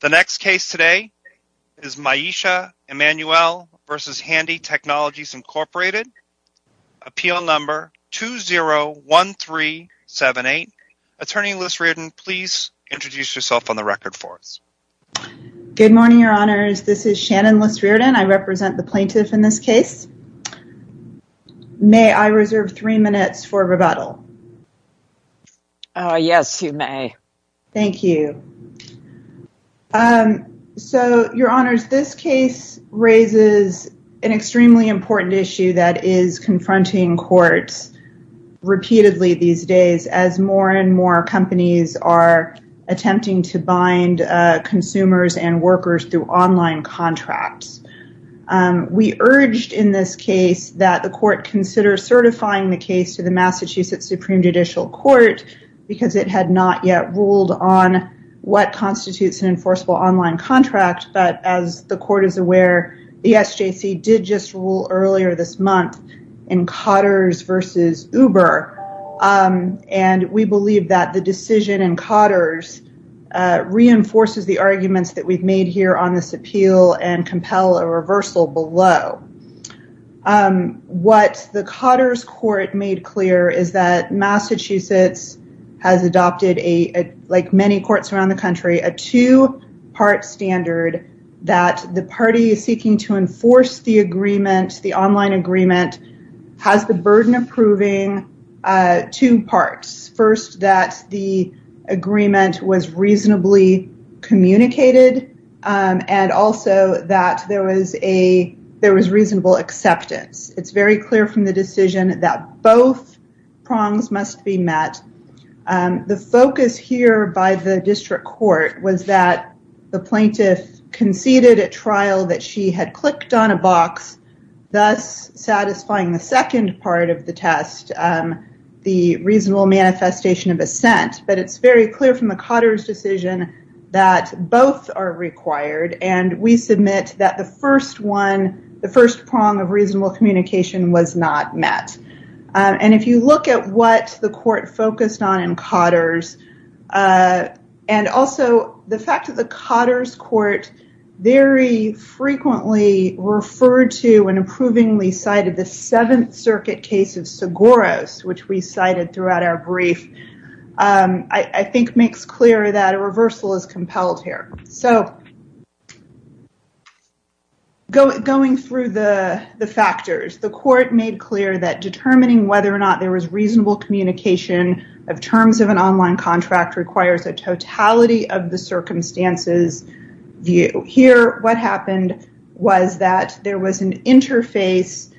The next case today is Myesha Emmanuelle v. Handy Technologies, Inc. Appeal number 201378. Attorney Liz Reardon, please introduce yourself on the record for us. Good morning, Your Honors. This is Shannon Liz Reardon. I represent the plaintiff in this case. May I reserve three minutes for rebuttal? Yes, you may. Thank you. So, Your Honors, this case raises an extremely important issue that is confronting courts repeatedly these days as more and more companies are attempting to bind consumers and workers through online contracts. We urged in this case that the court consider certifying the case to the Massachusetts Supreme Judicial Court because it had not yet ruled on what constitutes an enforceable online contract, but as the court is aware, the SJC did just rule earlier this month in Cotter's v. Uber, and we believe that the decision in Cotter's reinforces the arguments that we've made here on this appeal and compel a reversal below. What the Cotter's court made clear is that Massachusetts has adopted, like many courts around the country, a two-part standard that the party seeking to enforce the agreement, the online agreement, has the burden of proving two parts. First, that the agreement was reasonably communicated and also that there was reasonable acceptance. It's very clear from the decision that both prongs must be met. The focus here by the district court was that the plaintiff conceded at trial that she had clicked on a box, thus satisfying the second part of the test, the reasonable manifestation of assent. But it's very clear from the Cotter's decision that both are required, and we submit that the first one, the first prong of reasonable communication was not met. And if you look at what the court focused on in Cotter's, and also the fact that the Cotter's court very frequently referred to and approvingly cited the Seventh Circuit case of Seguros, which we cited throughout our brief, I think makes clear that a reversal is compelled here. So going through the factors, the court made clear that determining whether or not there was reasonable communication of terms of an online contract requires a totality of the circumstances view. Here, what happened was that there was an interface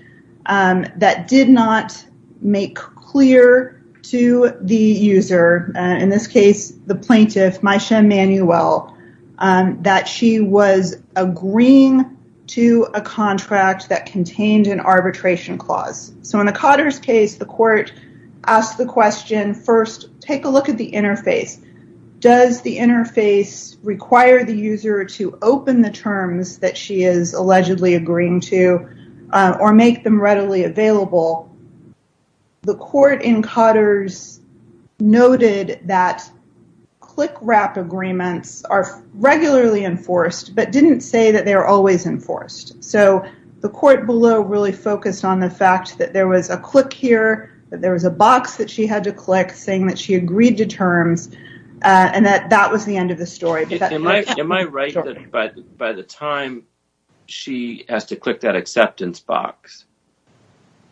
that did not make clear to the user, in this case, the plaintiff, Maisha Manuel, that she was agreeing to a contract that contained an arbitration clause. So in the Cotter's case, the court asked the question, first, take a look at the interface. Does the interface require the user to open the terms that she is allegedly agreeing to or make them readily available? The court in Cotter's noted that click wrap agreements are regularly enforced, but didn't say that they are always enforced. So the court below really focused on the fact that there was a click here, that there was a box that she had to click saying that she agreed to terms, and that that was the end of the story. Am I right that by the time she has to click that acceptance box,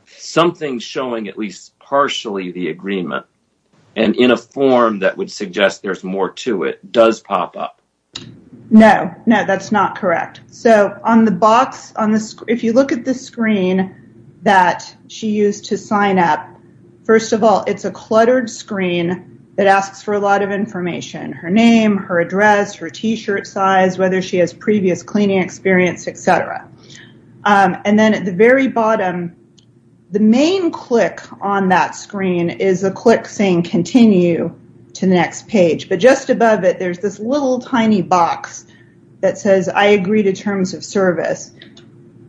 something showing at least partially the agreement, and in a form that would suggest there's more to it, does pop up? No, no, that's not correct. So on the box, if you look at the screen that she used to sign up, first of all, it's a cluttered screen that asks for a lot of information, her name, her address, her T-shirt size, whether she has previous cleaning experience, et cetera. And then at the very bottom, the main click on that screen is a click saying continue to the next page, but just above it, there's this little tiny box that says I agree to terms of service.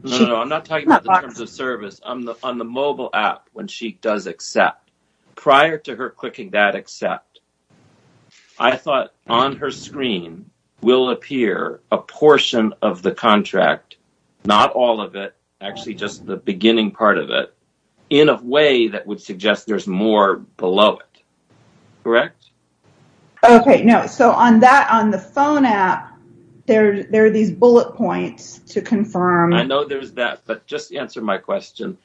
No, no, I'm not talking about the terms of service. On the mobile app, when she does accept, prior to her clicking that accept, I thought on her screen will appear a portion of the contract, not all of it, actually just the beginning part of it, in a way that would suggest there's more below it. Correct? Okay, no. So on that, on the phone app, there are these bullet points to confirm. I know there's that, but just answer my question.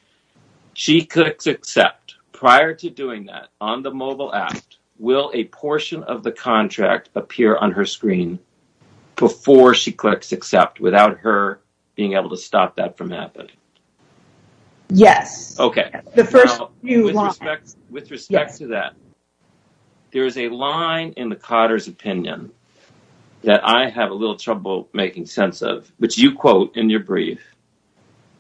She clicks accept. Prior to doing that, on the mobile app, will a portion of the contract appear on her screen before she clicks accept, without her being able to stop that from happening? Yes. Okay. With respect to that, there is a line in the Cotter's opinion that I have a little trouble making sense of, which you quote in your brief,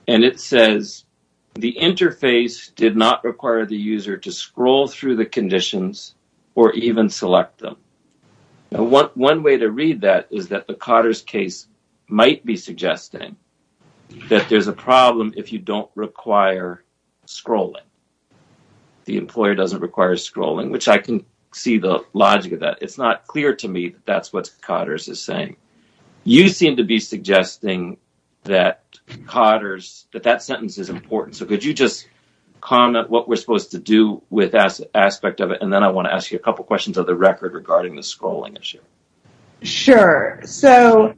and it says, the interface did not require the user to scroll through the conditions or even select them. One way to read that is that the Cotter's case might be suggesting that there's a problem if you don't require scrolling. The employer doesn't require scrolling, which I can see the logic of that. It's not clear to me that that's what Cotter's is saying. You seem to be suggesting that Cotter's, that that sentence is important, so could you just comment what we're supposed to do with that aspect of it, and then I want to ask you a couple questions of the record regarding the scrolling issue. Sure. So,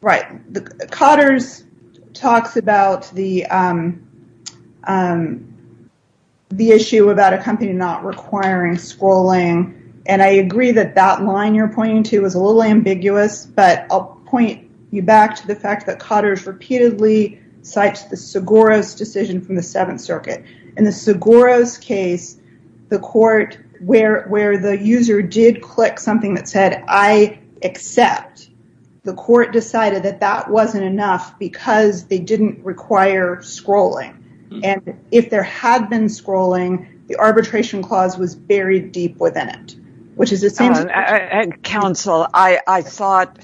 right. Cotter's talks about the issue about a company not requiring scrolling, and I agree that that line you're pointing to is a little ambiguous, but I'll point you back to the fact that Cotter's repeatedly cites the Seguro's decision from the Seventh Circuit. In the Seguro's case, the court, where the user did click something that said, I accept, the court decided that that wasn't enough because they didn't require scrolling, and if there had been scrolling, the arbitration clause was buried deep within it, which is the same. Counsel, I thought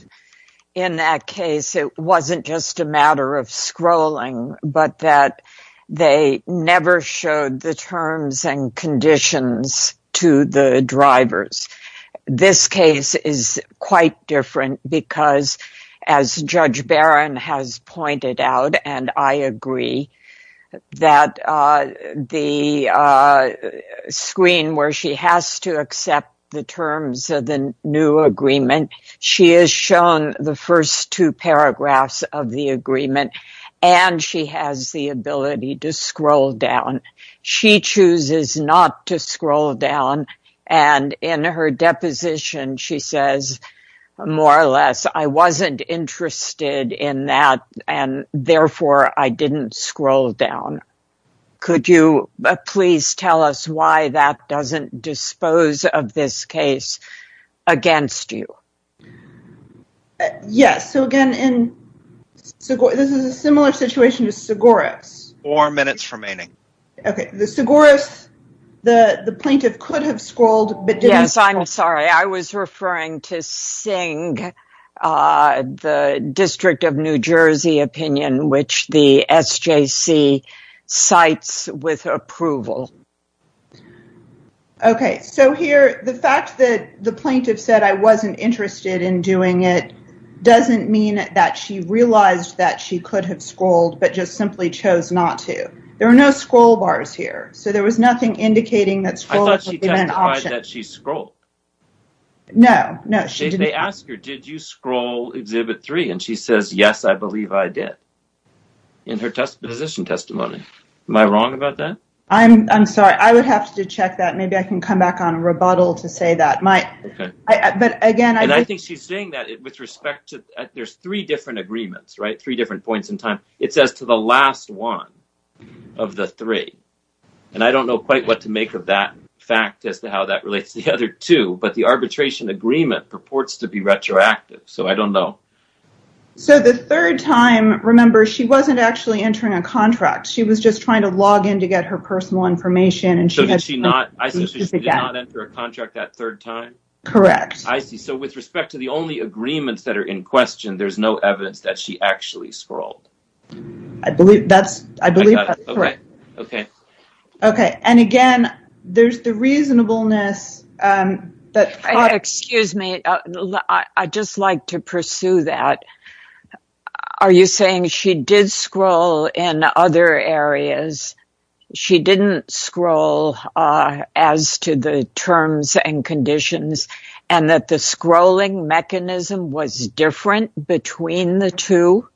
in that case it wasn't just a matter of scrolling, but that they never showed the terms and conditions to the drivers. This case is quite different because, as Judge Barron has pointed out, and I agree, that the screen where she has to accept the terms of the new agreement, she has shown the first two paragraphs of the agreement, and she has the ability to scroll down. She chooses not to scroll down, and in her deposition, she says, more or less, I wasn't interested in that, and therefore, I didn't scroll down. Could you please tell us why that doesn't dispose of this case against you? Yes. So, again, this is a similar situation to Seguro's. Four minutes remaining. Okay. The Seguro's, the plaintiff could have scrolled, but didn't. Yes, I'm sorry. I was referring to Singh, the District of New Jersey opinion, which the SJC cites with approval. Okay. So, here, the fact that the plaintiff said, I wasn't interested in doing it, doesn't mean that she realized that she could have scrolled, but just simply chose not to. There are no scroll bars here, so there was nothing indicating that scrolling could be an option. No, no. They ask her, did you scroll Exhibit 3, and she says, yes, I believe I did, in her disposition testimony. Am I wrong about that? I'm sorry. I would have to check that. Maybe I can come back on rebuttal to say that. Okay. But, again, I think she's saying that with respect to, there's three different agreements, right, three different points in time. It says to the last one of the three, and I don't know quite what to make of that fact as to how that relates to the other two, but the arbitration agreement purports to be retroactive, so I don't know. So, the third time, remember, she wasn't actually entering a contract. She was just trying to log in to get her personal information. So, she did not enter a contract that third time? Correct. I see. So, with respect to the only agreements that are in question, there's no evidence that she actually scrolled. I believe that's correct. Okay. Okay. And, again, there's the reasonableness. Excuse me. I'd just like to pursue that. Are you saying she did scroll in other areas, she didn't scroll as to the terms and conditions, and that the scrolling mechanism was different between the two?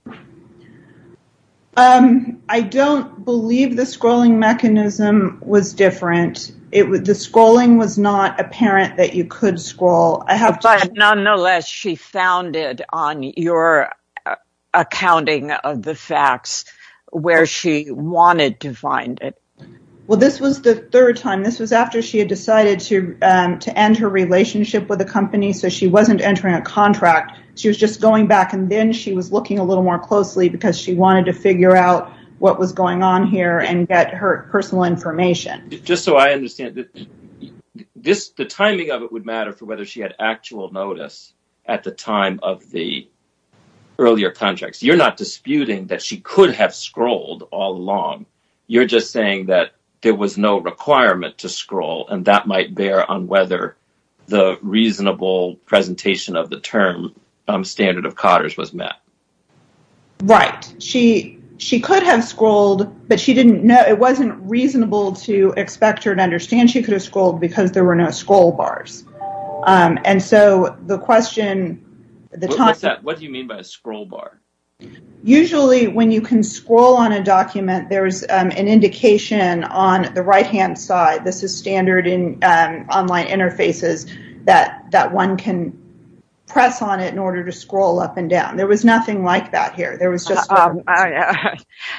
I don't believe the scrolling mechanism was different. The scrolling was not apparent that you could scroll. But, nonetheless, she found it on your accounting of the facts where she wanted to find it. Well, this was the third time. This was after she had decided to end her relationship with the company, so she wasn't entering a contract. She was just going back, and then she was looking a little more closely because she wanted to figure out what was going on here and get her personal information. Just so I understand, the timing of it would matter for whether she had actual notice at the time of the earlier contracts. You're not disputing that she could have scrolled all along. You're just saying that there was no requirement to scroll, and that might bear on whether the reasonable presentation of the term standard of COTTRS was met. Right. She could have scrolled, but it wasn't reasonable to expect her to understand she could have scrolled because there were no scroll bars. What do you mean by a scroll bar? Usually, when you can scroll on a document, there's an indication on the right-hand side. This is standard in online interfaces that one can press on it in order to scroll up and down. There was nothing like that here.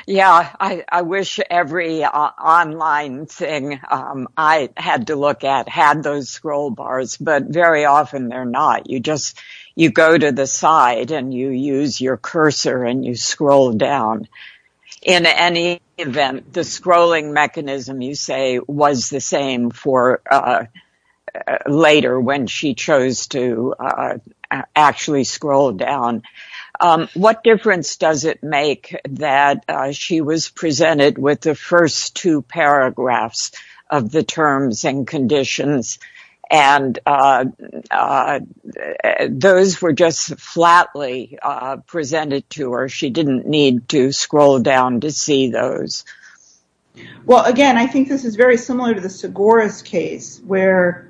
I wish every online thing I had to look at had those scroll bars, but very often they're not. You go to the side and you use your cursor and you scroll down. In any event, the scrolling mechanism, you say, was the same for later when she chose to actually scroll down. What difference does it make that she was presented with the first two paragraphs of the terms and conditions and those were just flatly presented to her? She didn't need to scroll down to see those. Well, again, I think this is very similar to the Segoras case where,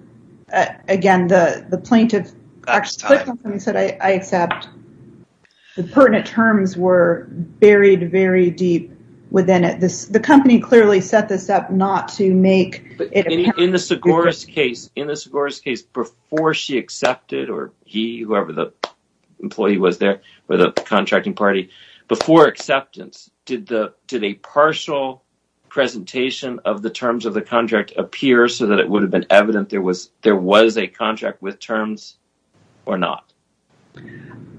again, the plaintiff said, I accept the pertinent terms were buried very deep within it. The company clearly set this up not to make it appear. In the Segoras case, before she accepted, or he, whoever the employee was there, or the contracting party, before acceptance, did a partial presentation of the terms of the contract appear so that it would have been evident there was a contract with terms or not?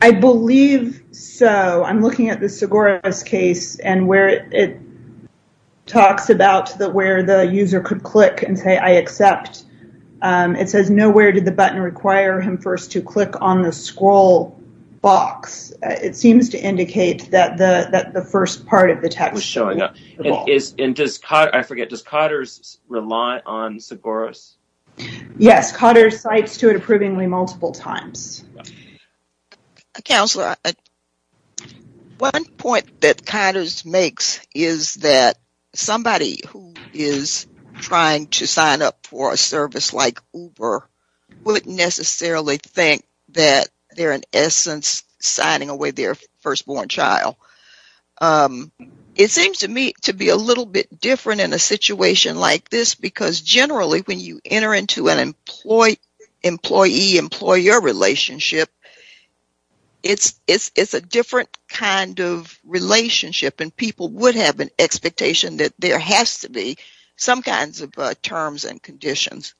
I believe so. I'm looking at the Segoras case and where it talks about where the user could click and say, I accept. It says, nowhere did the button require him first to click on the scroll box. It seems to indicate that the first part of the text was showing up. I forget, does Cotter's rely on Segoras? Yes, Cotter's cites to it approvingly multiple times. Counselor, one point that Cotter's makes is that somebody who is trying to sign up for a service like Uber wouldn't necessarily think that they're, in essence, signing away their firstborn child. It seems to me to be a little bit different in a situation like this because, generally, when you enter into an employee-employer relationship, it's a different kind of relationship and people would have an expectation that there has to be some kinds of terms and conditions.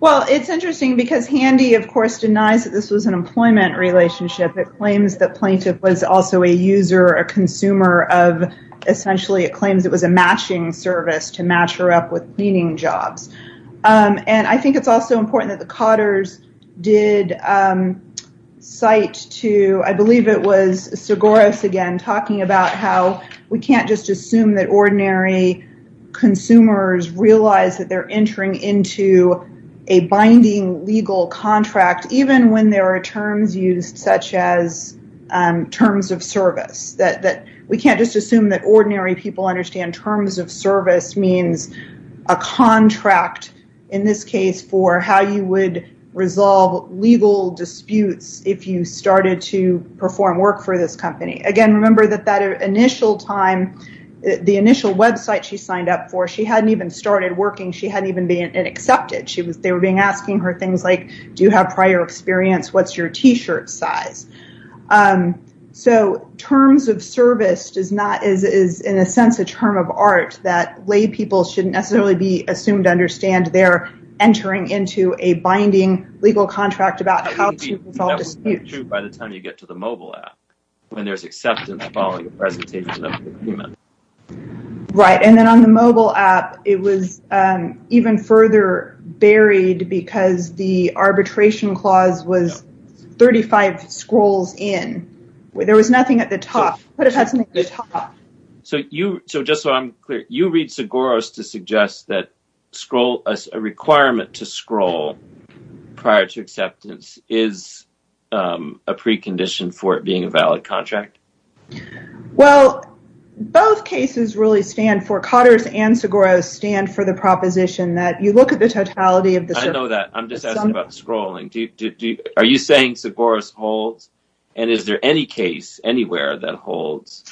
Well, it's interesting because Handy, of course, denies that this was an employment relationship. It claims that plaintiff was also a user, a consumer of, essentially, it claims it was a matching service to match her up with cleaning jobs. I think it's also important that the Cotter's did cite to, I believe it was Segoras again, talking about how we can't just assume that ordinary consumers realize that they're entering into a binding legal contract even when there are terms used such as terms of service. We can't just assume that ordinary people understand terms of service means a contract, in this case, for how you would resolve legal disputes if you started to perform work for this company. Again, remember that the initial website she signed up for, she hadn't even started working. She hadn't even been accepted. They were asking her things like, do you have prior experience? What's your T-shirt size? So terms of service is, in a sense, a term of art that lay people shouldn't necessarily be assumed to understand they're entering into a binding legal contract about how to resolve disputes. That would be true by the time you get to the mobile app when there's acceptance following a presentation of the agreement. Right, and then on the mobile app, it was even further buried because the arbitration clause was 35 scrolls in. There was nothing at the top. It could have had something at the top. So just so I'm clear, you read Segoras to suggest that a requirement to scroll prior to acceptance is a precondition for it being a valid contract? Well, both cases really stand for, Cotter's and Segoras stand for the proposition that you look at the totality of the… I know that. I'm just asking about scrolling. Are you saying Segoras holds and is there any case anywhere that holds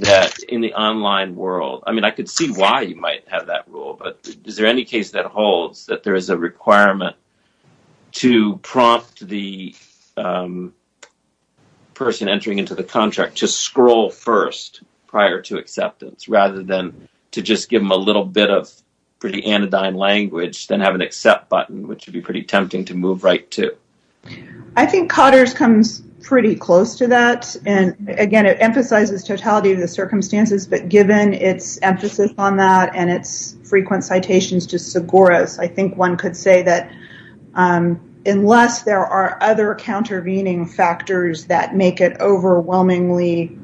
that in the online world? I mean, I could see why you might have that rule, but is there any case that holds that there is a requirement to prompt the person entering into the contract to scroll first prior to acceptance rather than to just give them a little bit of pretty anodyne language, then have an accept button, which would be pretty tempting to move right to? I think Cotter's comes pretty close to that, and again, it emphasizes totality of the circumstances, but given its emphasis on that and its frequent citations to Segoras, I think one could say that unless there are other countervening factors that make it overwhelmingly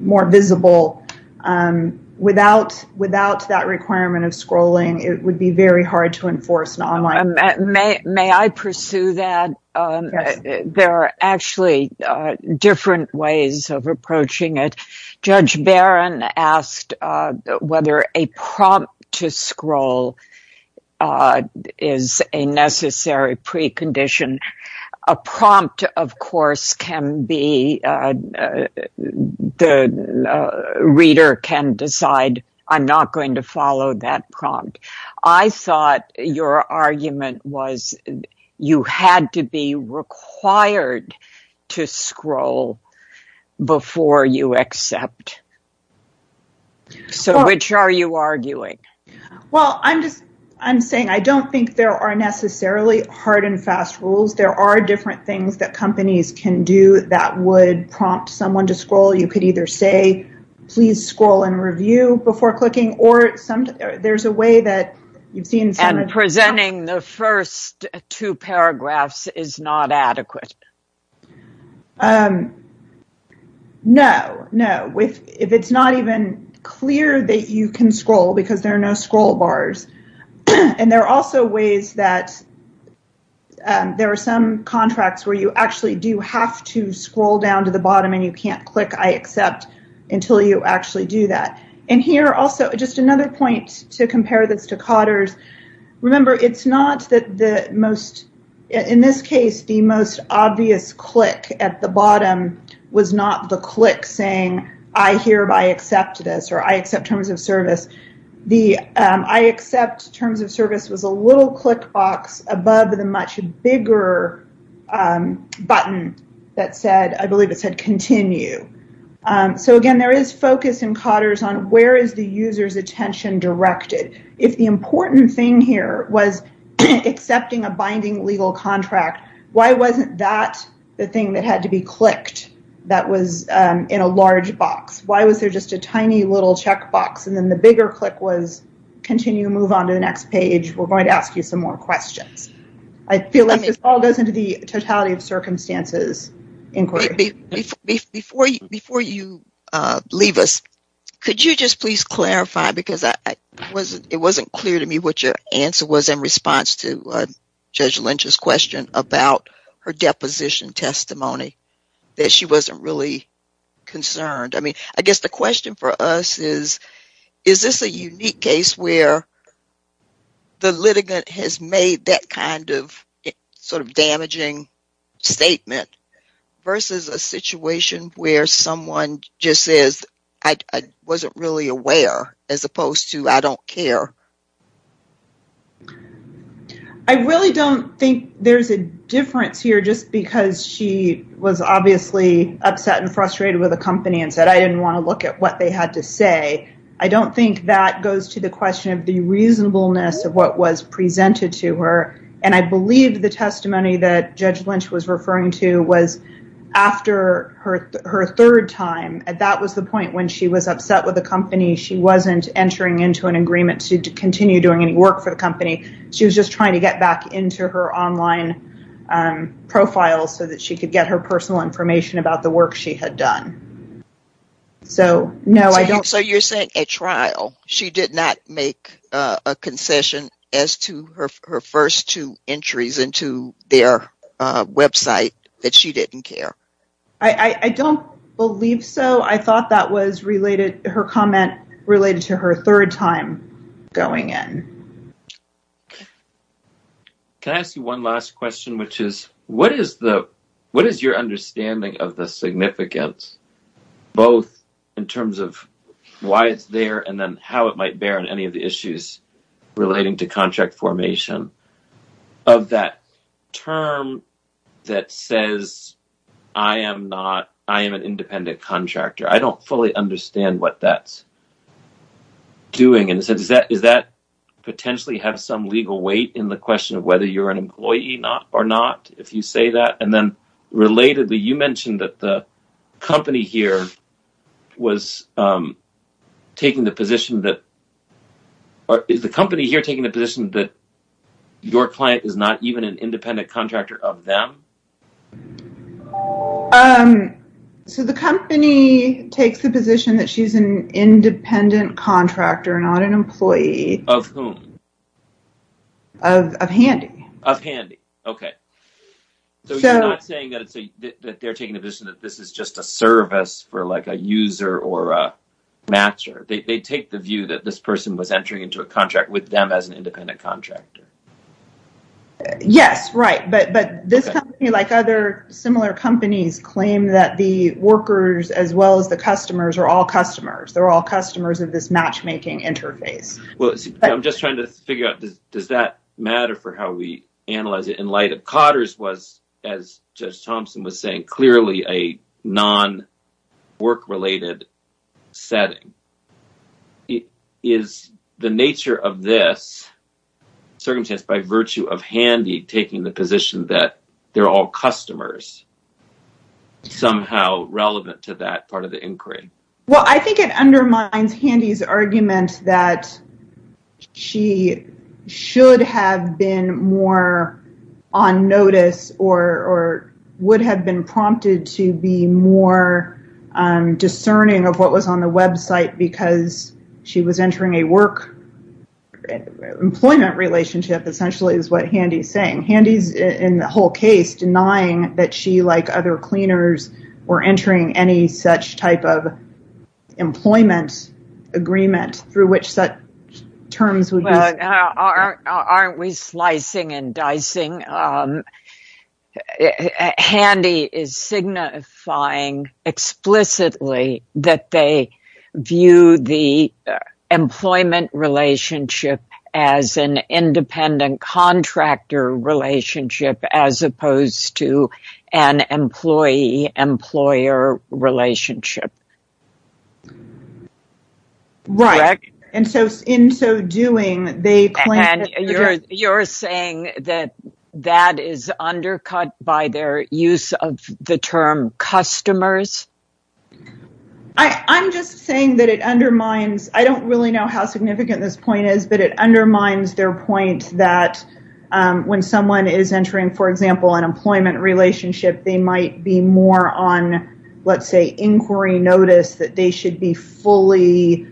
more visible, without that requirement of scrolling, it would be very hard to enforce an online… May I pursue that? Yes. There are actually different ways of approaching it. Judge Barron asked whether a prompt to scroll is a necessary precondition. A prompt, of course, the reader can decide, I'm not going to follow that prompt. I thought your argument was you had to be required to scroll before you accept. So, which are you arguing? Well, I'm saying I don't think there are necessarily hard and fast rules. There are different things that companies can do that would prompt someone to scroll. You could either say, please scroll and review before clicking, or there's a way that you've seen… And presenting the first two paragraphs is not adequate. No, no. If it's not even clear that you can scroll because there are no scroll bars, and there are also ways that there are some contracts where you actually do have to scroll down to the bottom and you can't click I accept until you actually do that. And here, also, just another point to compare this to Cotter's. Remember, it's not that the most… In this case, the most obvious click at the bottom was not the click saying I hereby accept this, or I accept terms of service. The I accept terms of service was a little click box above the much bigger button that said, continue. So, again, there is focus in Cotter's on where is the user's attention directed. If the important thing here was accepting a binding legal contract, why wasn't that the thing that had to be clicked that was in a large box? Why was there just a tiny little check box, and then the bigger click was continue, move on to the next page. We're going to ask you some more questions. I feel like this all goes into the totality of circumstances inquiry. Before you leave us, could you just please clarify, because it wasn't clear to me what your answer was in response to Judge Lynch's question about her deposition testimony, that she wasn't really concerned. I mean, I guess the question for us is, is this a unique case where the litigant has made that kind of sort of damaging statement versus a situation where someone just says I wasn't really aware as opposed to I don't care? I really don't think there's a difference here just because she was obviously upset and frustrated with the company and said I didn't want to look at what they had to say. I don't think that goes to the question of the reasonableness of what was presented to her, and I believe the testimony that Judge Lynch was referring to was after her third time. That was the point when she was upset with the company. She wasn't entering into an agreement to continue doing any work for the company. She was just trying to get back into her online profile so that she could get her personal information about the work she had done. So you're saying at trial she did not make a concession as to her first two entries into their website that she didn't care? I don't believe so. I thought that was related, her comment related to her third time going in. Can I ask you one last question? What is your understanding of the significance both in terms of why it's there and then how it might bear on any of the issues relating to contract formation of that term that says I am an independent contractor? I don't fully understand what that's doing. Does that potentially have some legal weight in the question of whether you're an employee or not, if you say that? Relatedly, you mentioned that the company here was taking the position that your client is not even an independent contractor of them? So the company takes the position that she's an independent contractor, not an employee. Of whom? Of Handy. Of Handy, okay. So you're not saying that they're taking the position that this is just a service for like a user or a matcher. They take the view that this person was entering into a contract with them as an independent contractor. Yes, right. But this company, like other similar companies, claim that the workers as well as the customers are all customers. They're all customers of this matchmaking interface. Well, I'm just trying to figure out, does that matter for how we analyze it? In light of Cotter's was, as Judge Thompson was saying, clearly a non-work related setting. Is the nature of this circumstance by virtue of Handy taking the position that they're all customers somehow relevant to that part of the inquiry? Well, I think it undermines Handy's argument that she should have been more on notice or would have been prompted to be more discerning of what was on the website because she was entering a work employment relationship. Essentially is what Handy's saying. Handy's, in the whole case, denying that she, like other cleaners, were entering any such type of employment agreement through which such terms would be. Aren't we slicing and dicing? Handy is signifying explicitly that they view the employment relationship as an independent contractor relationship as opposed to an employee-employer relationship. Right. And so in so doing, they claim. And you're saying that that is undercut by their use of the term customers? I'm just saying that it undermines. I don't really know how significant this point is, but it undermines their point that when someone is entering, for example, an employment relationship, they might be more on, let's say, inquiry notice that they should be fully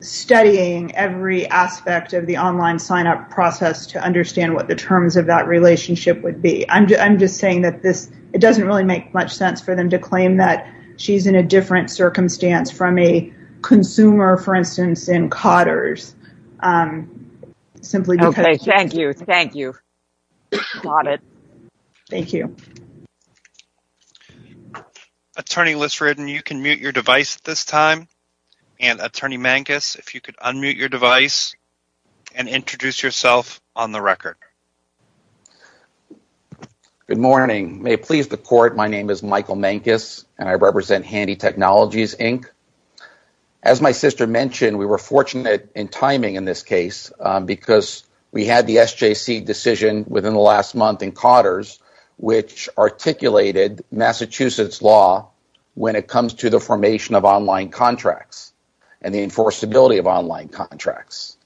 studying every aspect of the online sign-up process to understand what the terms of that relationship would be. I'm just saying that it doesn't really make much sense for them to claim that she's in a different circumstance from a consumer, for instance, in Cotter's. Thank you. Thank you. Got it. Thank you. Attorney Lissreden, you can mute your device at this time. And Attorney Mankus, if you could unmute your device and introduce yourself on the record. Good morning. May it please the court, my name is Michael Mankus, and I represent Handy Technologies, Inc. As my sister mentioned, we were fortunate in timing in this case because we had the SJC decision within the last month in Cotter's, which articulated Massachusetts law when it comes to the formation of online contracts and the enforceability of online contracts.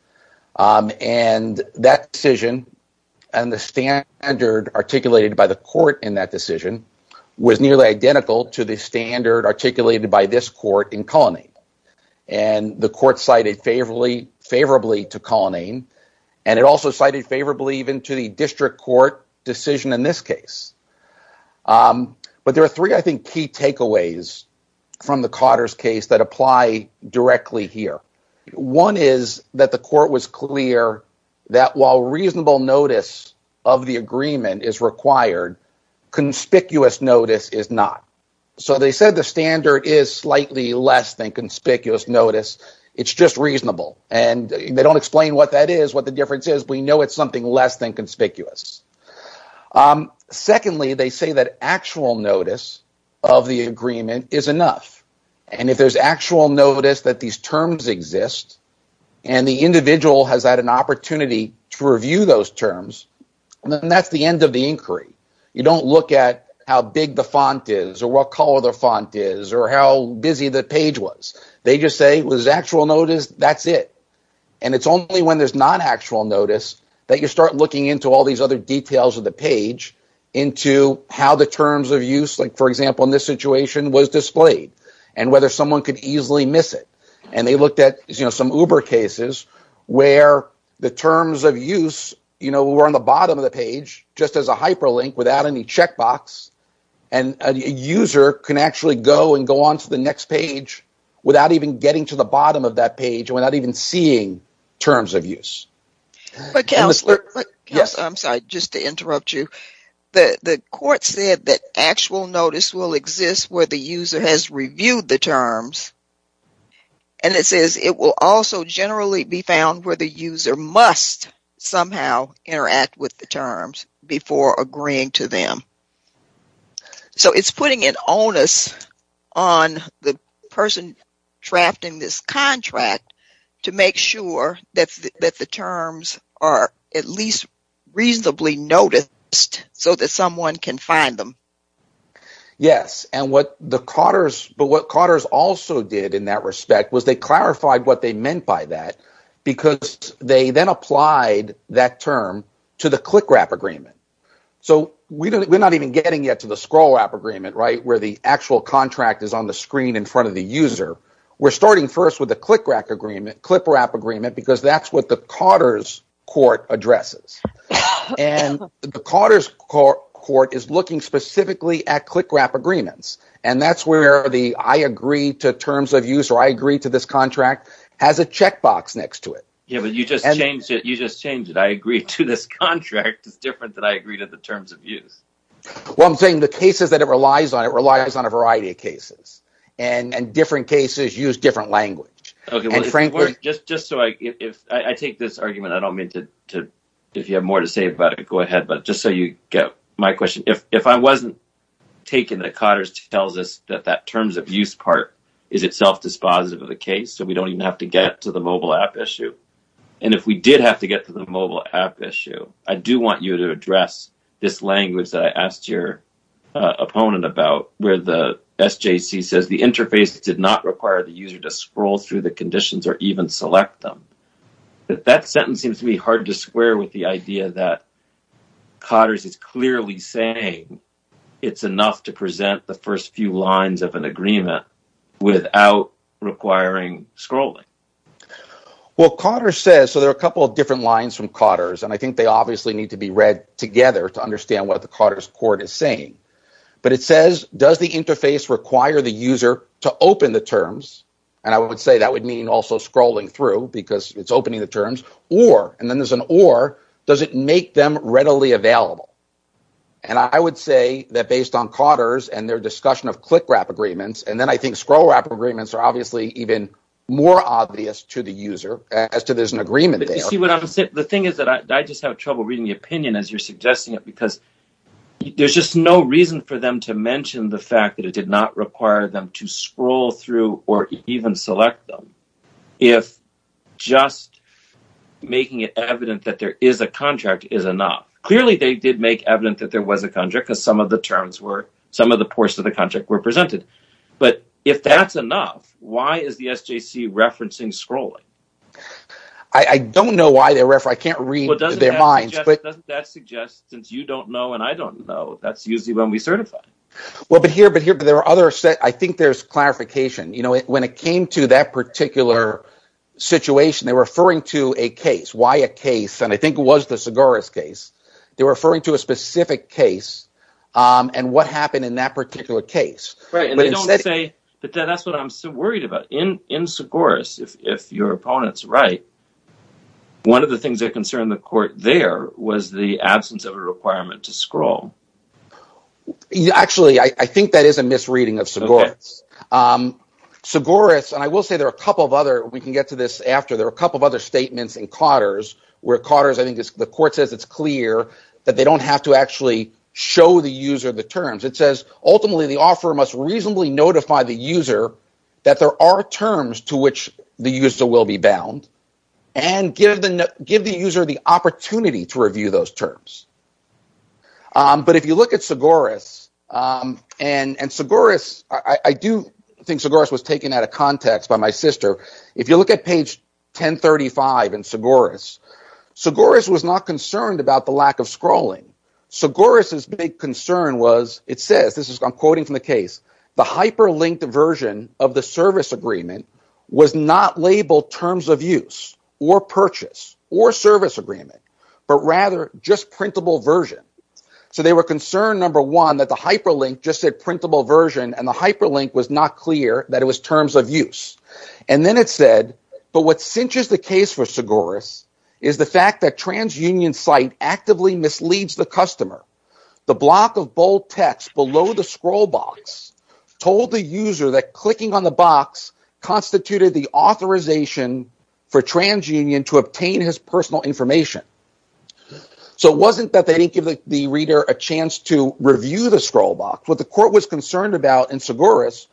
And that decision and the standard articulated by the court in that decision was nearly identical to the standard articulated by this court in Cullinane. And the court cited favorably to Cullinane, and it also cited favorably even to the district court decision in this case. But there are three, I think, key takeaways from the Cotter's case that apply directly here. One is that the court was clear that while reasonable notice of the agreement is required, conspicuous notice is not. So they said the standard is slightly less than conspicuous notice. It's just reasonable. And they don't explain what that is, what the difference is. We know it's something less than conspicuous. Secondly, they say that actual notice of the agreement is enough. And if there's actual notice that these terms exist and the individual has had an opportunity to review those terms, then that's the end of the inquiry. You don't look at how big the font is or what color the font is or how busy the page was. They just say it was actual notice. That's it. And it's only when there's not actual notice that you start looking into all these other details of the page into how the terms of use, like, for example, in this situation was displayed and whether someone could easily miss it. And they looked at some Uber cases where the terms of use were on the bottom of the page just as a hyperlink without any checkbox. And a user can actually go and go on to the next page without even getting to the bottom of that page or not even seeing terms of use. But counselor, I'm sorry, just to interrupt you. The court said that actual notice will exist where the user has reviewed the terms. And it says it will also generally be found where the user must somehow interact with the terms before agreeing to them. So it's putting an onus on the person drafting this contract to make sure that the terms are at least reasonably noticed so that someone can find them. Yes, and what the Cotters also did in that respect was they clarified what they meant by that because they then applied that term to the CLICRAP agreement. So we're not even getting yet to the SCROLLRAP agreement where the actual contract is on the screen in front of the user. We're starting first with the CLICRAP agreement because that's what the Cotters court addresses. And the Cotters court is looking specifically at CLICRAP agreements. And that's where the I agree to terms of use or I agree to this contract has a checkbox next to it. Yeah, but you just changed it. You just changed it. I agree to this contract. It's different than I agree to the terms of use. Well, I'm saying the cases that it relies on, it relies on a variety of cases and different cases use different language. Just so I take this argument, I don't mean to if you have more to say about it, go ahead. But just so you get my question, if I wasn't taking the Cotters tells us that that terms of use part is itself dispositive of the case, so we don't even have to get to the mobile app issue. And if we did have to get to the mobile app issue, I do want you to address this language that I asked your opponent about where the SJC says the interface did not require the user to scroll through the conditions or even select them. But that sentence seems to be hard to square with the idea that Cotters is clearly saying it's enough to present the first few lines of an agreement without requiring scrolling. Well, Cotters says so there are a couple of different lines from Cotters, and I think they obviously need to be read together to understand what the Cotters court is saying. But it says, does the interface require the user to open the terms? And I would say that would mean also scrolling through because it's opening the terms or and then there's an or does it make them readily available? And I would say that based on Cotters and their discussion of click wrap agreements, and then I think scroll wrap agreements are obviously even more obvious to the user as to there's an agreement. The thing is that I just have trouble reading the opinion as you're suggesting it because there's just no reason for them to mention the fact that it did not require them to scroll through or even select them. If just making it evident that there is a contract is enough. Clearly they did make evident that there was a contract because some of the terms were some of the parts of the contract were presented. But if that's enough, why is the SJC referencing scrolling? I don't know why they're referring. I can't read their minds. Doesn't that suggest since you don't know and I don't know, that's usually when we certify. Well, but here, but here, but there are other sets. I think there's clarification. When it came to that particular situation, they were referring to a case. Why a case? And I think it was the Segaris case. They were referring to a specific case and what happened in that particular case. That's what I'm so worried about. In Segaris, if your opponent's right, one of the things that concerned the court there was the absence of a requirement to scroll. Actually, I think that is a misreading of Segaris. Segaris, and I will say there are a couple of other, we can get to this after. There are a couple of other statements in Cotter's where Cotter's, I think the court says it's clear that they don't have to actually show the user the terms. It says ultimately the offeror must reasonably notify the user that there are terms to which the user will be bound and give the user the opportunity to review those terms. But if you look at Segaris, and Segaris, I do think Segaris was taken out of context by my sister. If you look at page 1035 in Segaris, Segaris was not concerned about the lack of scrolling. Segaris' big concern was, it says, I'm quoting from the case, the hyperlinked version of the service agreement was not labeled terms of use or purchase or service agreement, but rather just printable version. So they were concerned, number one, that the hyperlink just said printable version and the hyperlink was not clear that it was terms of use. And then it said, but what cinches the case for Segaris is the fact that TransUnion site actively misleads the customer. The block of bold text below the scroll box told the user that clicking on the box constituted the authorization for TransUnion to obtain his personal information. So it wasn't that they didn't give the reader a chance to review the scroll box. What the court was concerned about in Segaris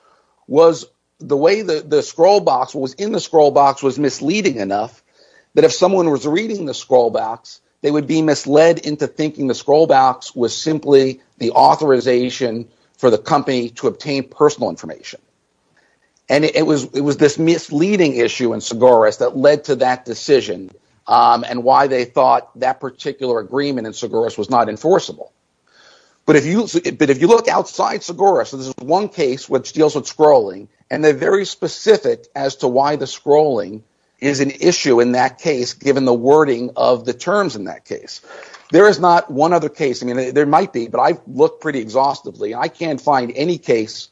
was the way the scroll box, what was in the scroll box was misleading enough that if someone was reading the scroll box, they would be misled into thinking the scroll box was simply the authorization for the company to obtain personal information. And it was this misleading issue in Segaris that led to that decision and why they thought that particular agreement in Segaris was not enforceable. But if you look outside Segaris, this is one case which deals with scrolling and they're very specific as to why the scrolling is an issue in that case given the wording of the terms in that case. There is not one other case, I mean there might be, but I've looked pretty exhaustively. I can't find any case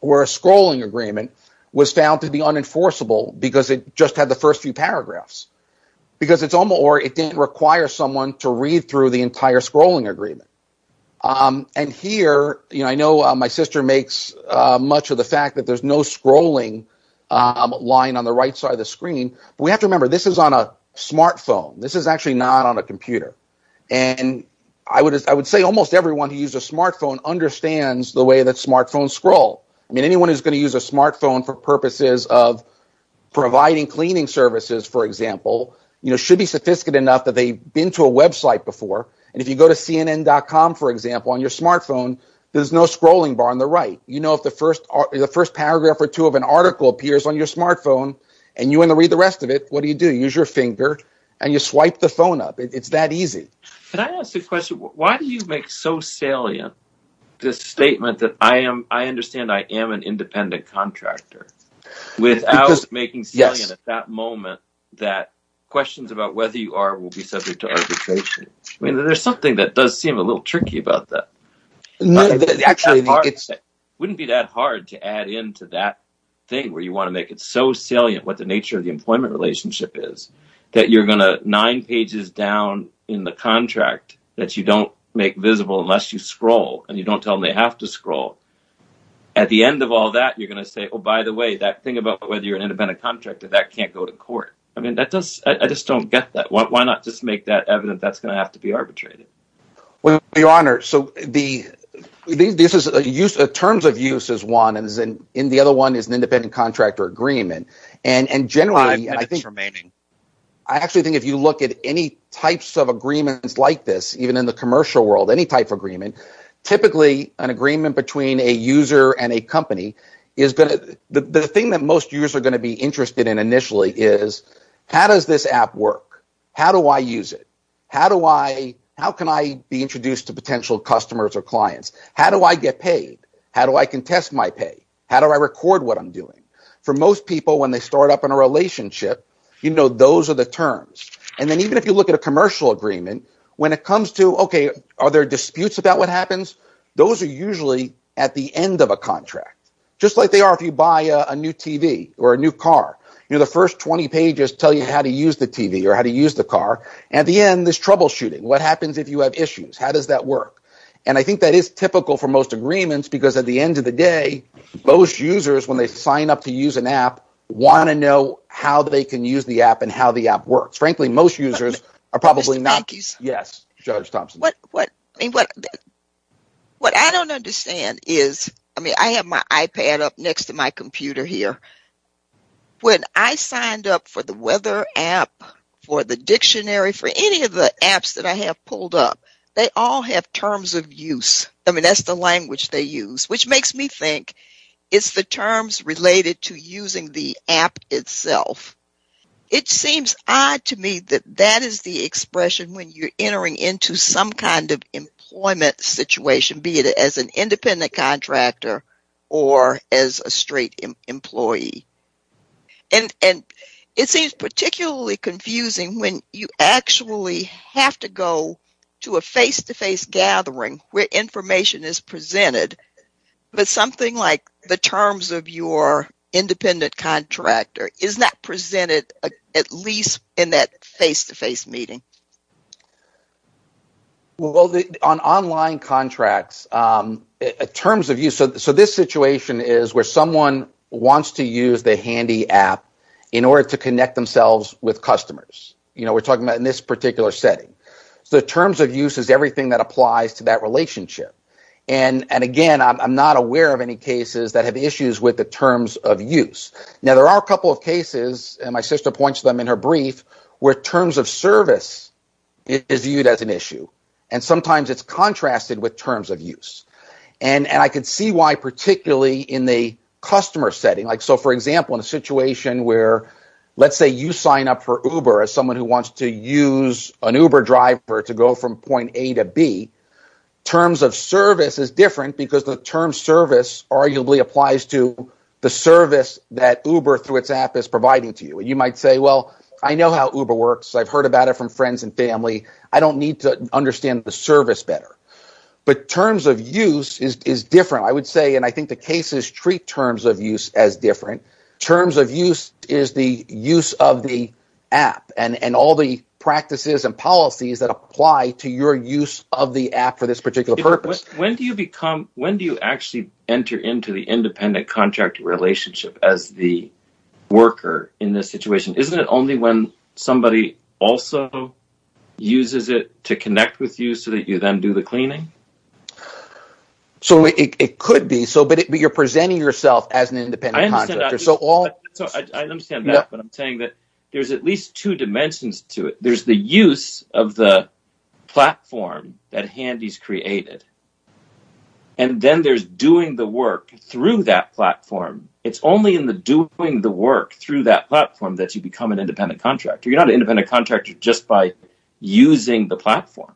where a scrolling agreement was found to be unenforceable because it just had the first few paragraphs. Or it didn't require someone to read through the entire scrolling agreement. And here, I know my sister makes much of the fact that there's no scrolling line on the right side of the screen. We have to remember this is on a smartphone. This is actually not on a computer. And I would say almost everyone who uses a smartphone understands the way that smartphones scroll. I mean anyone who's going to use a smartphone for purposes of providing cleaning services, for example, should be sophisticated enough that they've been to a website before. And if you go to CNN.com, for example, on your smartphone, there's no scrolling bar on the right. You know if the first paragraph or two of an article appears on your smartphone and you want to read the rest of it, what do you do? You use your finger and you swipe the phone up. It's that easy. Why do you make so salient this statement that I understand I am an independent contractor without making salient at that moment that questions about whether you are will be subject to arbitration? I mean there's something that does seem a little tricky about that. It wouldn't be that hard to add into that thing where you want to make it so salient what the nature of the employment relationship is that you're going to nine pages down in the contract that you don't make visible unless you scroll and you don't tell them they have to scroll. At the end of all that, you're going to say, oh, by the way, that thing about whether you're an independent contractor, that can't go to court. I mean, I just don't get that. Why not just make that evident that's going to have to be arbitrated? Well, Your Honor, terms of use is one and the other one is an independent contractor agreement. I actually think if you look at any types of agreements like this, even in the commercial world, any type of agreement, typically an agreement between a user and a company is going to – the thing that most users are going to be interested in initially is how does this app work? How do I use it? How can I be introduced to potential customers or clients? How do I get paid? How do I contest my pay? How do I record what I'm doing? For most people when they start up in a relationship, those are the terms. And then even if you look at a commercial agreement, when it comes to, okay, are there disputes about what happens, those are usually at the end of a contract just like they are if you buy a new TV or a new car. The first 20 pages tell you how to use the TV or how to use the car. At the end, there's troubleshooting. What happens if you have issues? How does that work? And I think that is typical for most agreements because at the end of the day, most users when they sign up to use an app want to know how they can use the app and how the app works. What I don't understand is – I mean I have my iPad up next to my computer here. When I signed up for the weather app, for the dictionary, for any of the apps that I have pulled up, they all have terms of use. I mean that's the language they use, which makes me think it's the terms related to using the app itself. It seems odd to me that that is the expression when you're entering into some kind of employment situation, be it as an independent contractor or as a straight employee. It seems particularly confusing when you actually have to go to a face-to-face gathering where information is presented, but something like the terms of your independent contractor is not presented at least in that face-to-face meeting. Well, on online contracts, terms of use – so this situation is where someone wants to use the handy app in order to connect themselves with customers. We're talking about in this particular setting. So terms of use is everything that applies to that relationship. And again, I'm not aware of any cases that have issues with the terms of use. Now, there are a couple of cases, and my sister points them in her brief, where terms of service is viewed as an issue, and sometimes it's contrasted with terms of use. And I could see why particularly in the customer setting. So for example, in a situation where let's say you sign up for Uber as someone who wants to use an Uber driver to go from point A to B, terms of service is different because the term service arguably applies to the service that Uber through its app is providing to you. You might say, well, I know how Uber works. I've heard about it from friends and family. I don't need to understand the service better. But terms of use is different. I would say, and I think the cases treat terms of use as different. Terms of use is the use of the app and all the practices and policies that apply to your use of the app for this particular purpose. When do you actually enter into the independent contractor relationship as the worker in this situation? Isn't it only when somebody also uses it to connect with you so that you then do the cleaning? So it could be, but you're presenting yourself as an independent contractor. I understand that, but I'm saying that there's at least two dimensions to it. There's the use of the platform that Handy's created. And then there's doing the work through that platform. It's only in the doing the work through that platform that you become an independent contractor. You're not an independent contractor just by using the platform.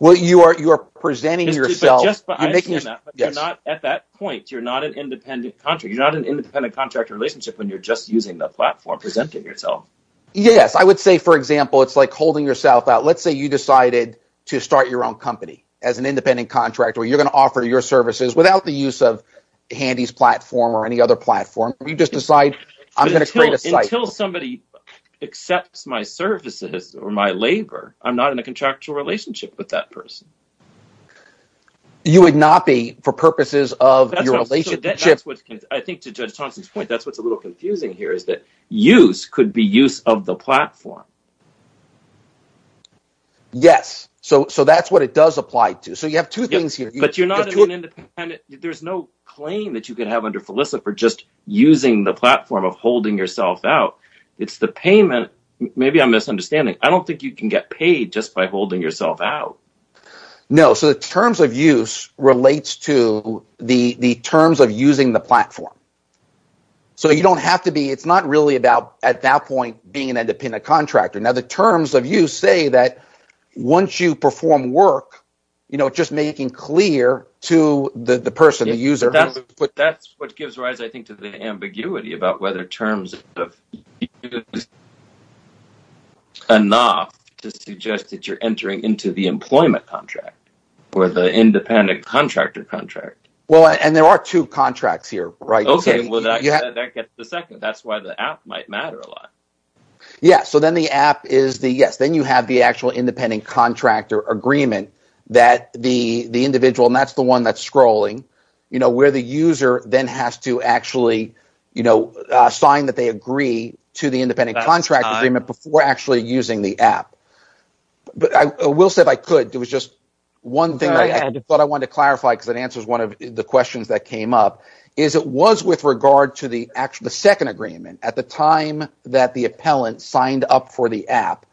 Well, you're presenting yourself. At that point, you're not an independent contractor. You're not an independent contractor relationship when you're just using the platform presenting yourself. Yes, I would say, for example, it's like holding yourself out. Let's say you decided to start your own company as an independent contractor. You're going to offer your services without the use of Handy's platform or any other platform. You just decide, I'm going to create a site. Until somebody accepts my services or my labor, I'm not in a contractual relationship with that person. You would not be for purposes of your relationship. I think to Judge Thompson's point, that's what's a little confusing here is that use could be use of the platform. Yes, so that's what it does apply to. So you have two things here. There's no claim that you can have under Felicity for just using the platform of holding yourself out. It's the payment. Maybe I'm misunderstanding. I don't think you can get paid just by holding yourself out. No, so the terms of use relates to the terms of using the platform. So you don't have to be – it's not really about, at that point, being an independent contractor. Now, the terms of use say that once you perform work, just making clear to the person, the user… That's what gives rise, I think, to the ambiguity about whether terms of use is enough to suggest that you're entering into the employment contract or the independent contractor contract. Well, and there are two contracts here, right? Okay, well, that gets to the second. That's why the app might matter a lot. Yes, so then the app is the – yes, then you have the actual independent contractor agreement that the individual, and that's the one that's scrolling, where the user then has to actually sign that they agree to the independent contract agreement before actually using the app. Will said I could. It was just one thing that I wanted to clarify because it answers one of the questions that came up. It was with regard to the second agreement. At the time that the appellant signed up for the app,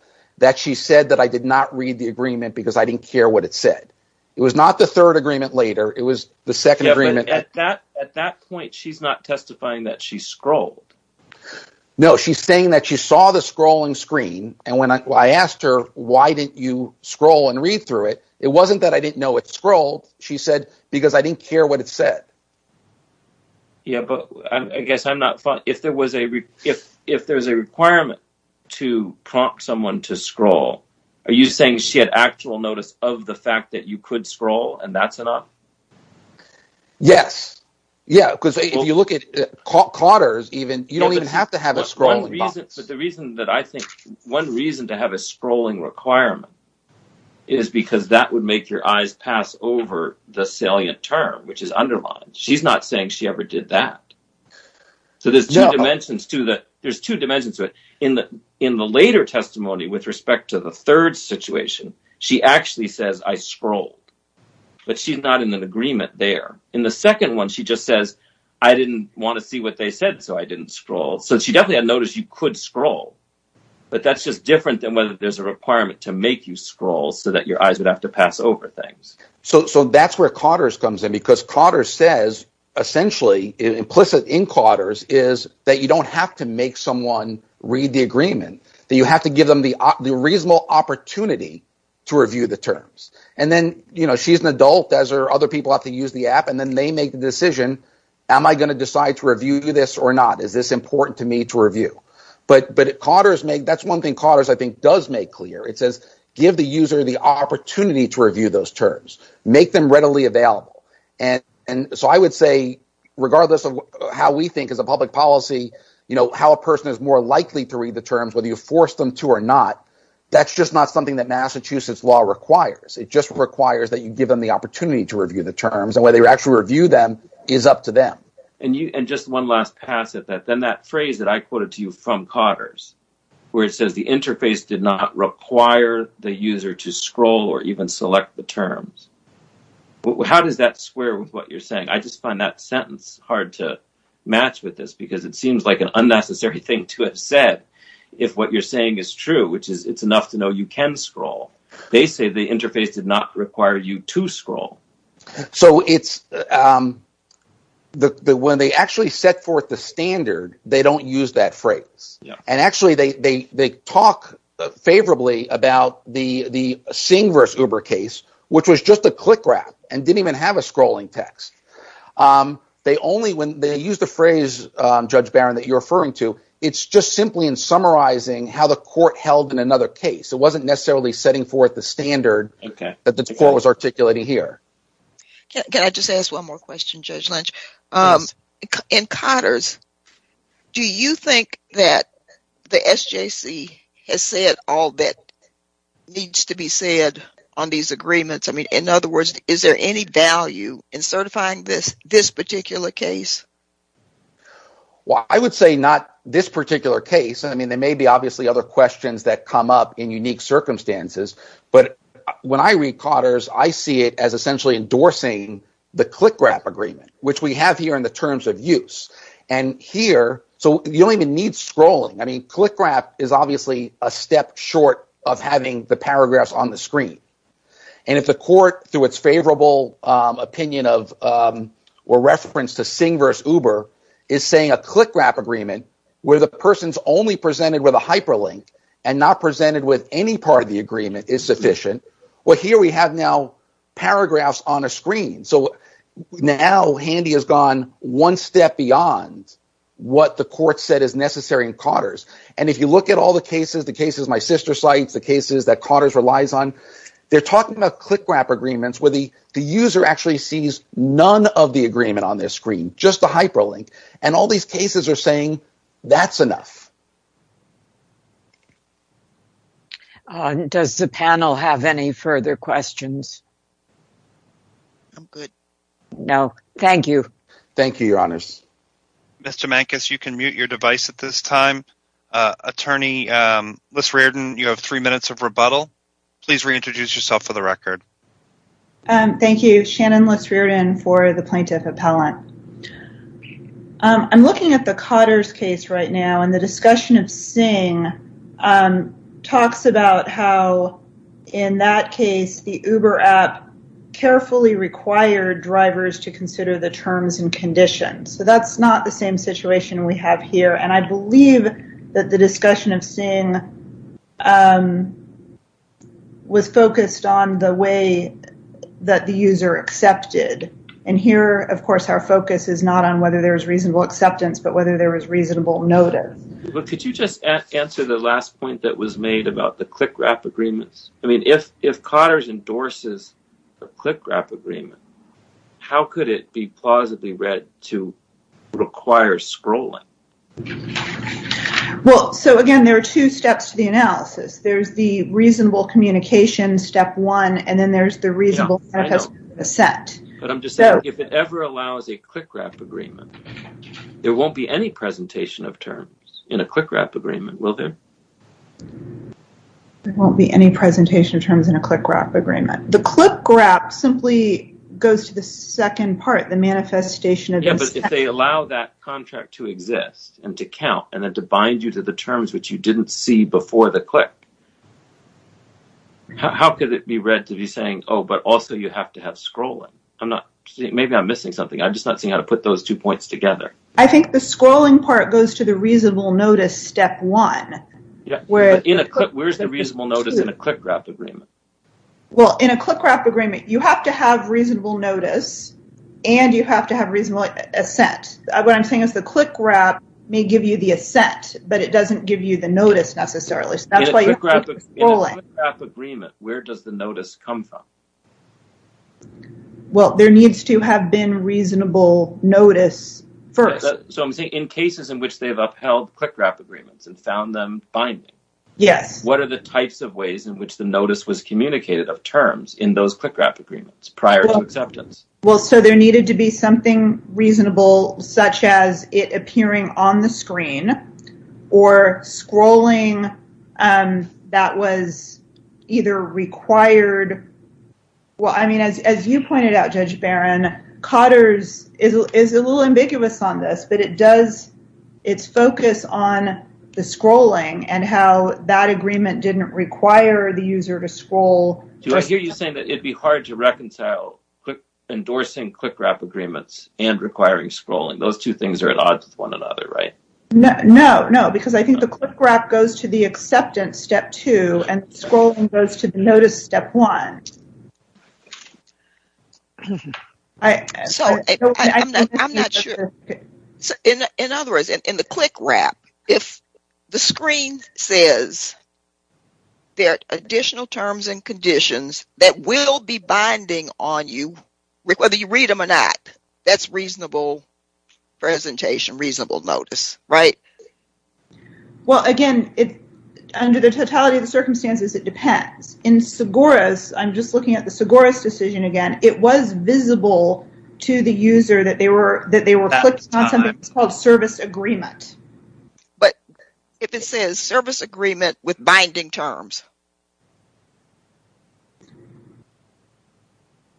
she said that I did not read the agreement because I didn't care what it said. It was not the third agreement later. It was the second agreement. Yes, but at that point, she's not testifying that she scrolled. No, she's saying that she saw the scrolling screen, and when I asked her why didn't you scroll and read through it, it wasn't that I didn't know it scrolled. She said because I didn't care what it said. Yeah, but I guess I'm not – if there was a requirement to prompt someone to scroll, are you saying she had actual notice of the fact that you could scroll and that's enough? Yes, because if you look at Cotter's, you don't even have to have a scrolling box. But the reason that I think – one reason to have a scrolling requirement is because that would make your eyes pass over the salient term, which is underlined. She's not saying she ever did that. So there's two dimensions to it. In the later testimony with respect to the third situation, she actually says, I scrolled, but she's not in an agreement there. In the second one, she just says, I didn't want to see what they said, so I didn't scroll. So she definitely had notice you could scroll, but that's just different than whether there's a requirement to make you scroll so that your eyes would have to pass over things. So that's where Cotter's comes in because Cotter's says essentially implicit in Cotter's is that you don't have to make someone read the agreement. You have to give them the reasonable opportunity to review the terms. And then she's an adult as are other people who have to use the app, and then they make the decision, am I going to decide to review this or not? Is this important to me to review? But Cotter's – that's one thing Cotter's I think does make clear. It says give the user the opportunity to review those terms. Make them readily available. And so I would say regardless of how we think as a public policy, how a person is more likely to read the terms, whether you force them to or not, that's just not something that Massachusetts law requires. It just requires that you give them the opportunity to review the terms, and whether you actually review them is up to them. And just one last pass at that. Then that phrase that I quoted to you from Cotter's where it says the interface did not require the user to scroll or even select the terms, how does that square with what you're saying? I just find that sentence hard to match with this because it seems like an unnecessary thing to have said if what you're saying is true, which is it's enough to know you can scroll. They say the interface did not require you to scroll. So it's – when they actually set forth the standard, they don't use that phrase. And actually they talk favorably about the Singh v. Uber case, which was just a click wrap and didn't even have a scrolling text. They only – when they use the phrase, Judge Barron, that you're referring to, it's just simply in summarizing how the court held in another case. It wasn't necessarily setting forth the standard that the court was articulating here. Can I just ask one more question, Judge Lynch? Yes. In Cotter's, do you think that the SJC has said all that needs to be said on these agreements? In other words, is there any value in certifying this particular case? Well, I would say not this particular case. I mean there may be obviously other questions that come up in unique circumstances. But when I read Cotter's, I see it as essentially endorsing the click wrap agreement, which we have here in the terms of use. And here – so you don't even need scrolling. I mean click wrap is obviously a step short of having the paragraphs on the screen. And if the court, through its favorable opinion of or reference to Singh v. Uber, is saying a click wrap agreement where the person is only presented with a hyperlink and not presented with any part of the agreement is sufficient. Well, here we have now paragraphs on a screen. So now, Handy has gone one step beyond what the court said is necessary in Cotter's. And if you look at all the cases, the cases my sister cites, the cases that Cotter's relies on, they're talking about click wrap agreements where the user actually sees none of the agreement on their screen, just the hyperlink. And all these cases are saying that's enough. Does the panel have any further questions? I'm good. Thank you, Your Honors. Mr. Mankus, you can mute your device at this time. Attorney Lis Reardon, you have three minutes of rebuttal. Please reintroduce yourself for the record. Thank you. Shannon Lis Reardon for the plaintiff appellant. I'm looking at the Cotter's case right now, and the discussion of Singh talks about how, in that case, the Uber app carefully required drivers to consider the terms and conditions. So that's not the same situation we have here. And I believe that the discussion of Singh was focused on the way that the user accepted. And here, of course, our focus is not on whether there was reasonable acceptance but whether there was reasonable notice. But could you just answer the last point that was made about the click wrap agreements? I mean, if Cotter's endorses a click wrap agreement, how could it be plausibly read to require scrolling? Well, so, again, there are two steps to the analysis. There's the reasonable communication, step one, and then there's the reasonable manifest consent. But I'm just saying, if it ever allows a click wrap agreement, there won't be any presentation of terms in a click wrap agreement, will there? There won't be any presentation of terms in a click wrap agreement. The click wrap simply goes to the second part, the manifestation of this. Yeah, but if they allow that contract to exist and to count and then to bind you to the terms which you didn't see before the click, how could it be read to be saying, oh, but also you have to have scrolling? Maybe I'm missing something. I'm just not seeing how to put those two points together. I think the scrolling part goes to the reasonable notice step one. Yeah, but where's the reasonable notice in a click wrap agreement? Well, in a click wrap agreement, you have to have reasonable notice and you have to have reasonable assent. What I'm saying is the click wrap may give you the assent, but it doesn't give you the notice necessarily. In a click wrap agreement, where does the notice come from? Well, there needs to have been reasonable notice first. So, I'm saying in cases in which they've upheld click wrap agreements and found them binding. Yes. What are the types of ways in which the notice was communicated of terms in those click wrap agreements prior to acceptance? Well, so there needed to be something reasonable such as it appearing on the screen or scrolling that was either required. Well, I mean, as you pointed out, Judge Barron, Cotter's is a little ambiguous on this, but it does its focus on the scrolling and how that agreement didn't require the user to scroll. Do I hear you saying that it'd be hard to reconcile endorsing click wrap agreements and requiring scrolling? Those two things are at odds with one another, right? No, no, because I think the click wrap goes to the acceptance step two and scrolling goes to the notice step one. So, in other words, in the click wrap, if the screen says there are additional terms and conditions that will be binding on you, whether you read them or not, that's reasonable presentation, reasonable notice, right? Well, again, under the totality of the circumstances, it depends. In Segoras, I'm just looking at the Segoras decision again, it was visible to the user that they were clicking on something that's called service agreement. But if it says service agreement with binding terms.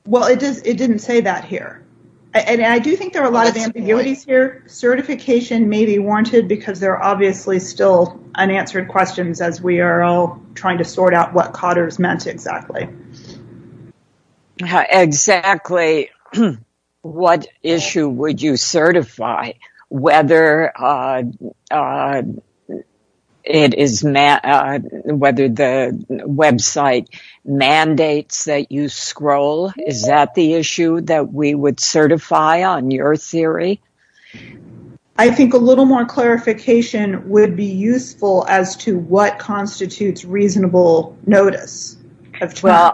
Well, it didn't say that here. And I do think there are a lot of ambiguities here. Certification may be warranted because there are obviously still unanswered questions as we are all trying to sort out what Cotter's meant exactly. Exactly. What issue would you certify whether it is whether the website mandates that you scroll? Is that the issue that we would certify on your theory? I think a little more clarification would be useful as to what constitutes reasonable notice. Well,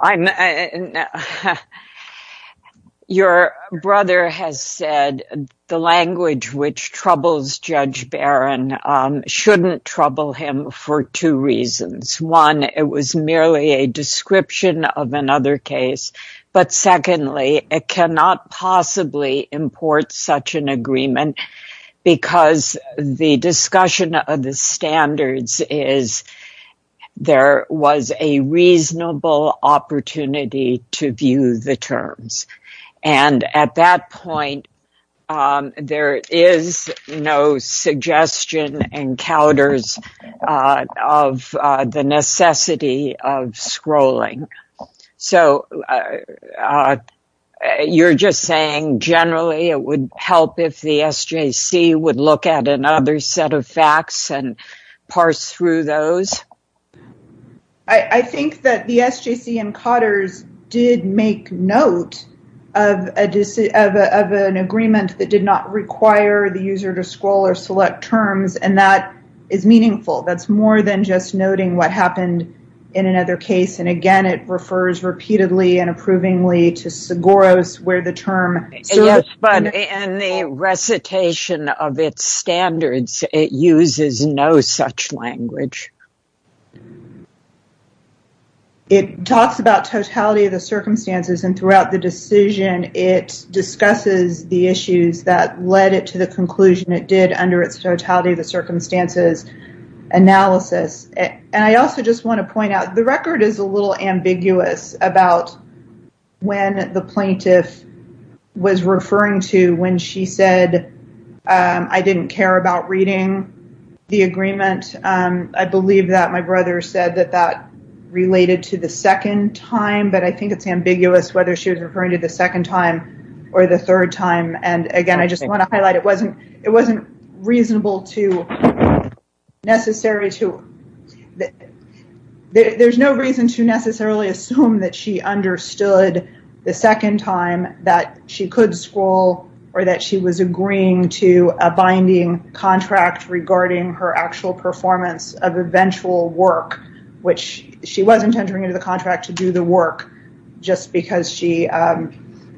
your brother has said the language which troubles Judge Barron shouldn't trouble him for two reasons. One, it was merely a description of another case. But secondly, it cannot possibly import such an agreement because the discussion of the standards is there was a reasonable opportunity to view the terms. And at that point, there is no suggestion and counters of the necessity of scrolling. So you're just saying generally it would help if the SJC would look at another set of facts and parse through those? I think that the SJC and Cotter's did make note of an agreement that did not require the user to scroll or select terms. And that is meaningful. That's more than just noting what happened in another case. And again, it refers repeatedly and approvingly to Seguro's where the term. But in the recitation of its standards, it uses no such language. It talks about totality of the circumstances and throughout the decision, it discusses the issues that led it to the conclusion it did under its totality of the circumstances analysis. And I also just want to point out the record is a little ambiguous about when the plaintiff was referring to when she said, I didn't care about reading the agreement. I believe that my brother said that that related to the second time, but I think it's ambiguous whether she was referring to the second time or the third time. And again, I just want to highlight it wasn't it wasn't reasonable to necessary to. There's no reason to necessarily assume that she understood the second time that she could scroll or that she was agreeing to a binding contract regarding her actual performance of eventual work, which she wasn't entering into the contract to do the work just because she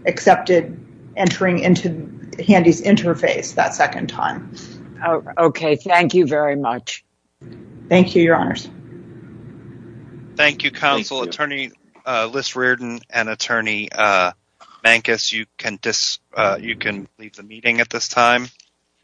accepted entering into Handy's interface that second time. OK, thank you very much. Thank you, Your Honors. Thank you, Counsel. Attorney Liz Reardon and Attorney Mancus, you can leave the meeting at this time.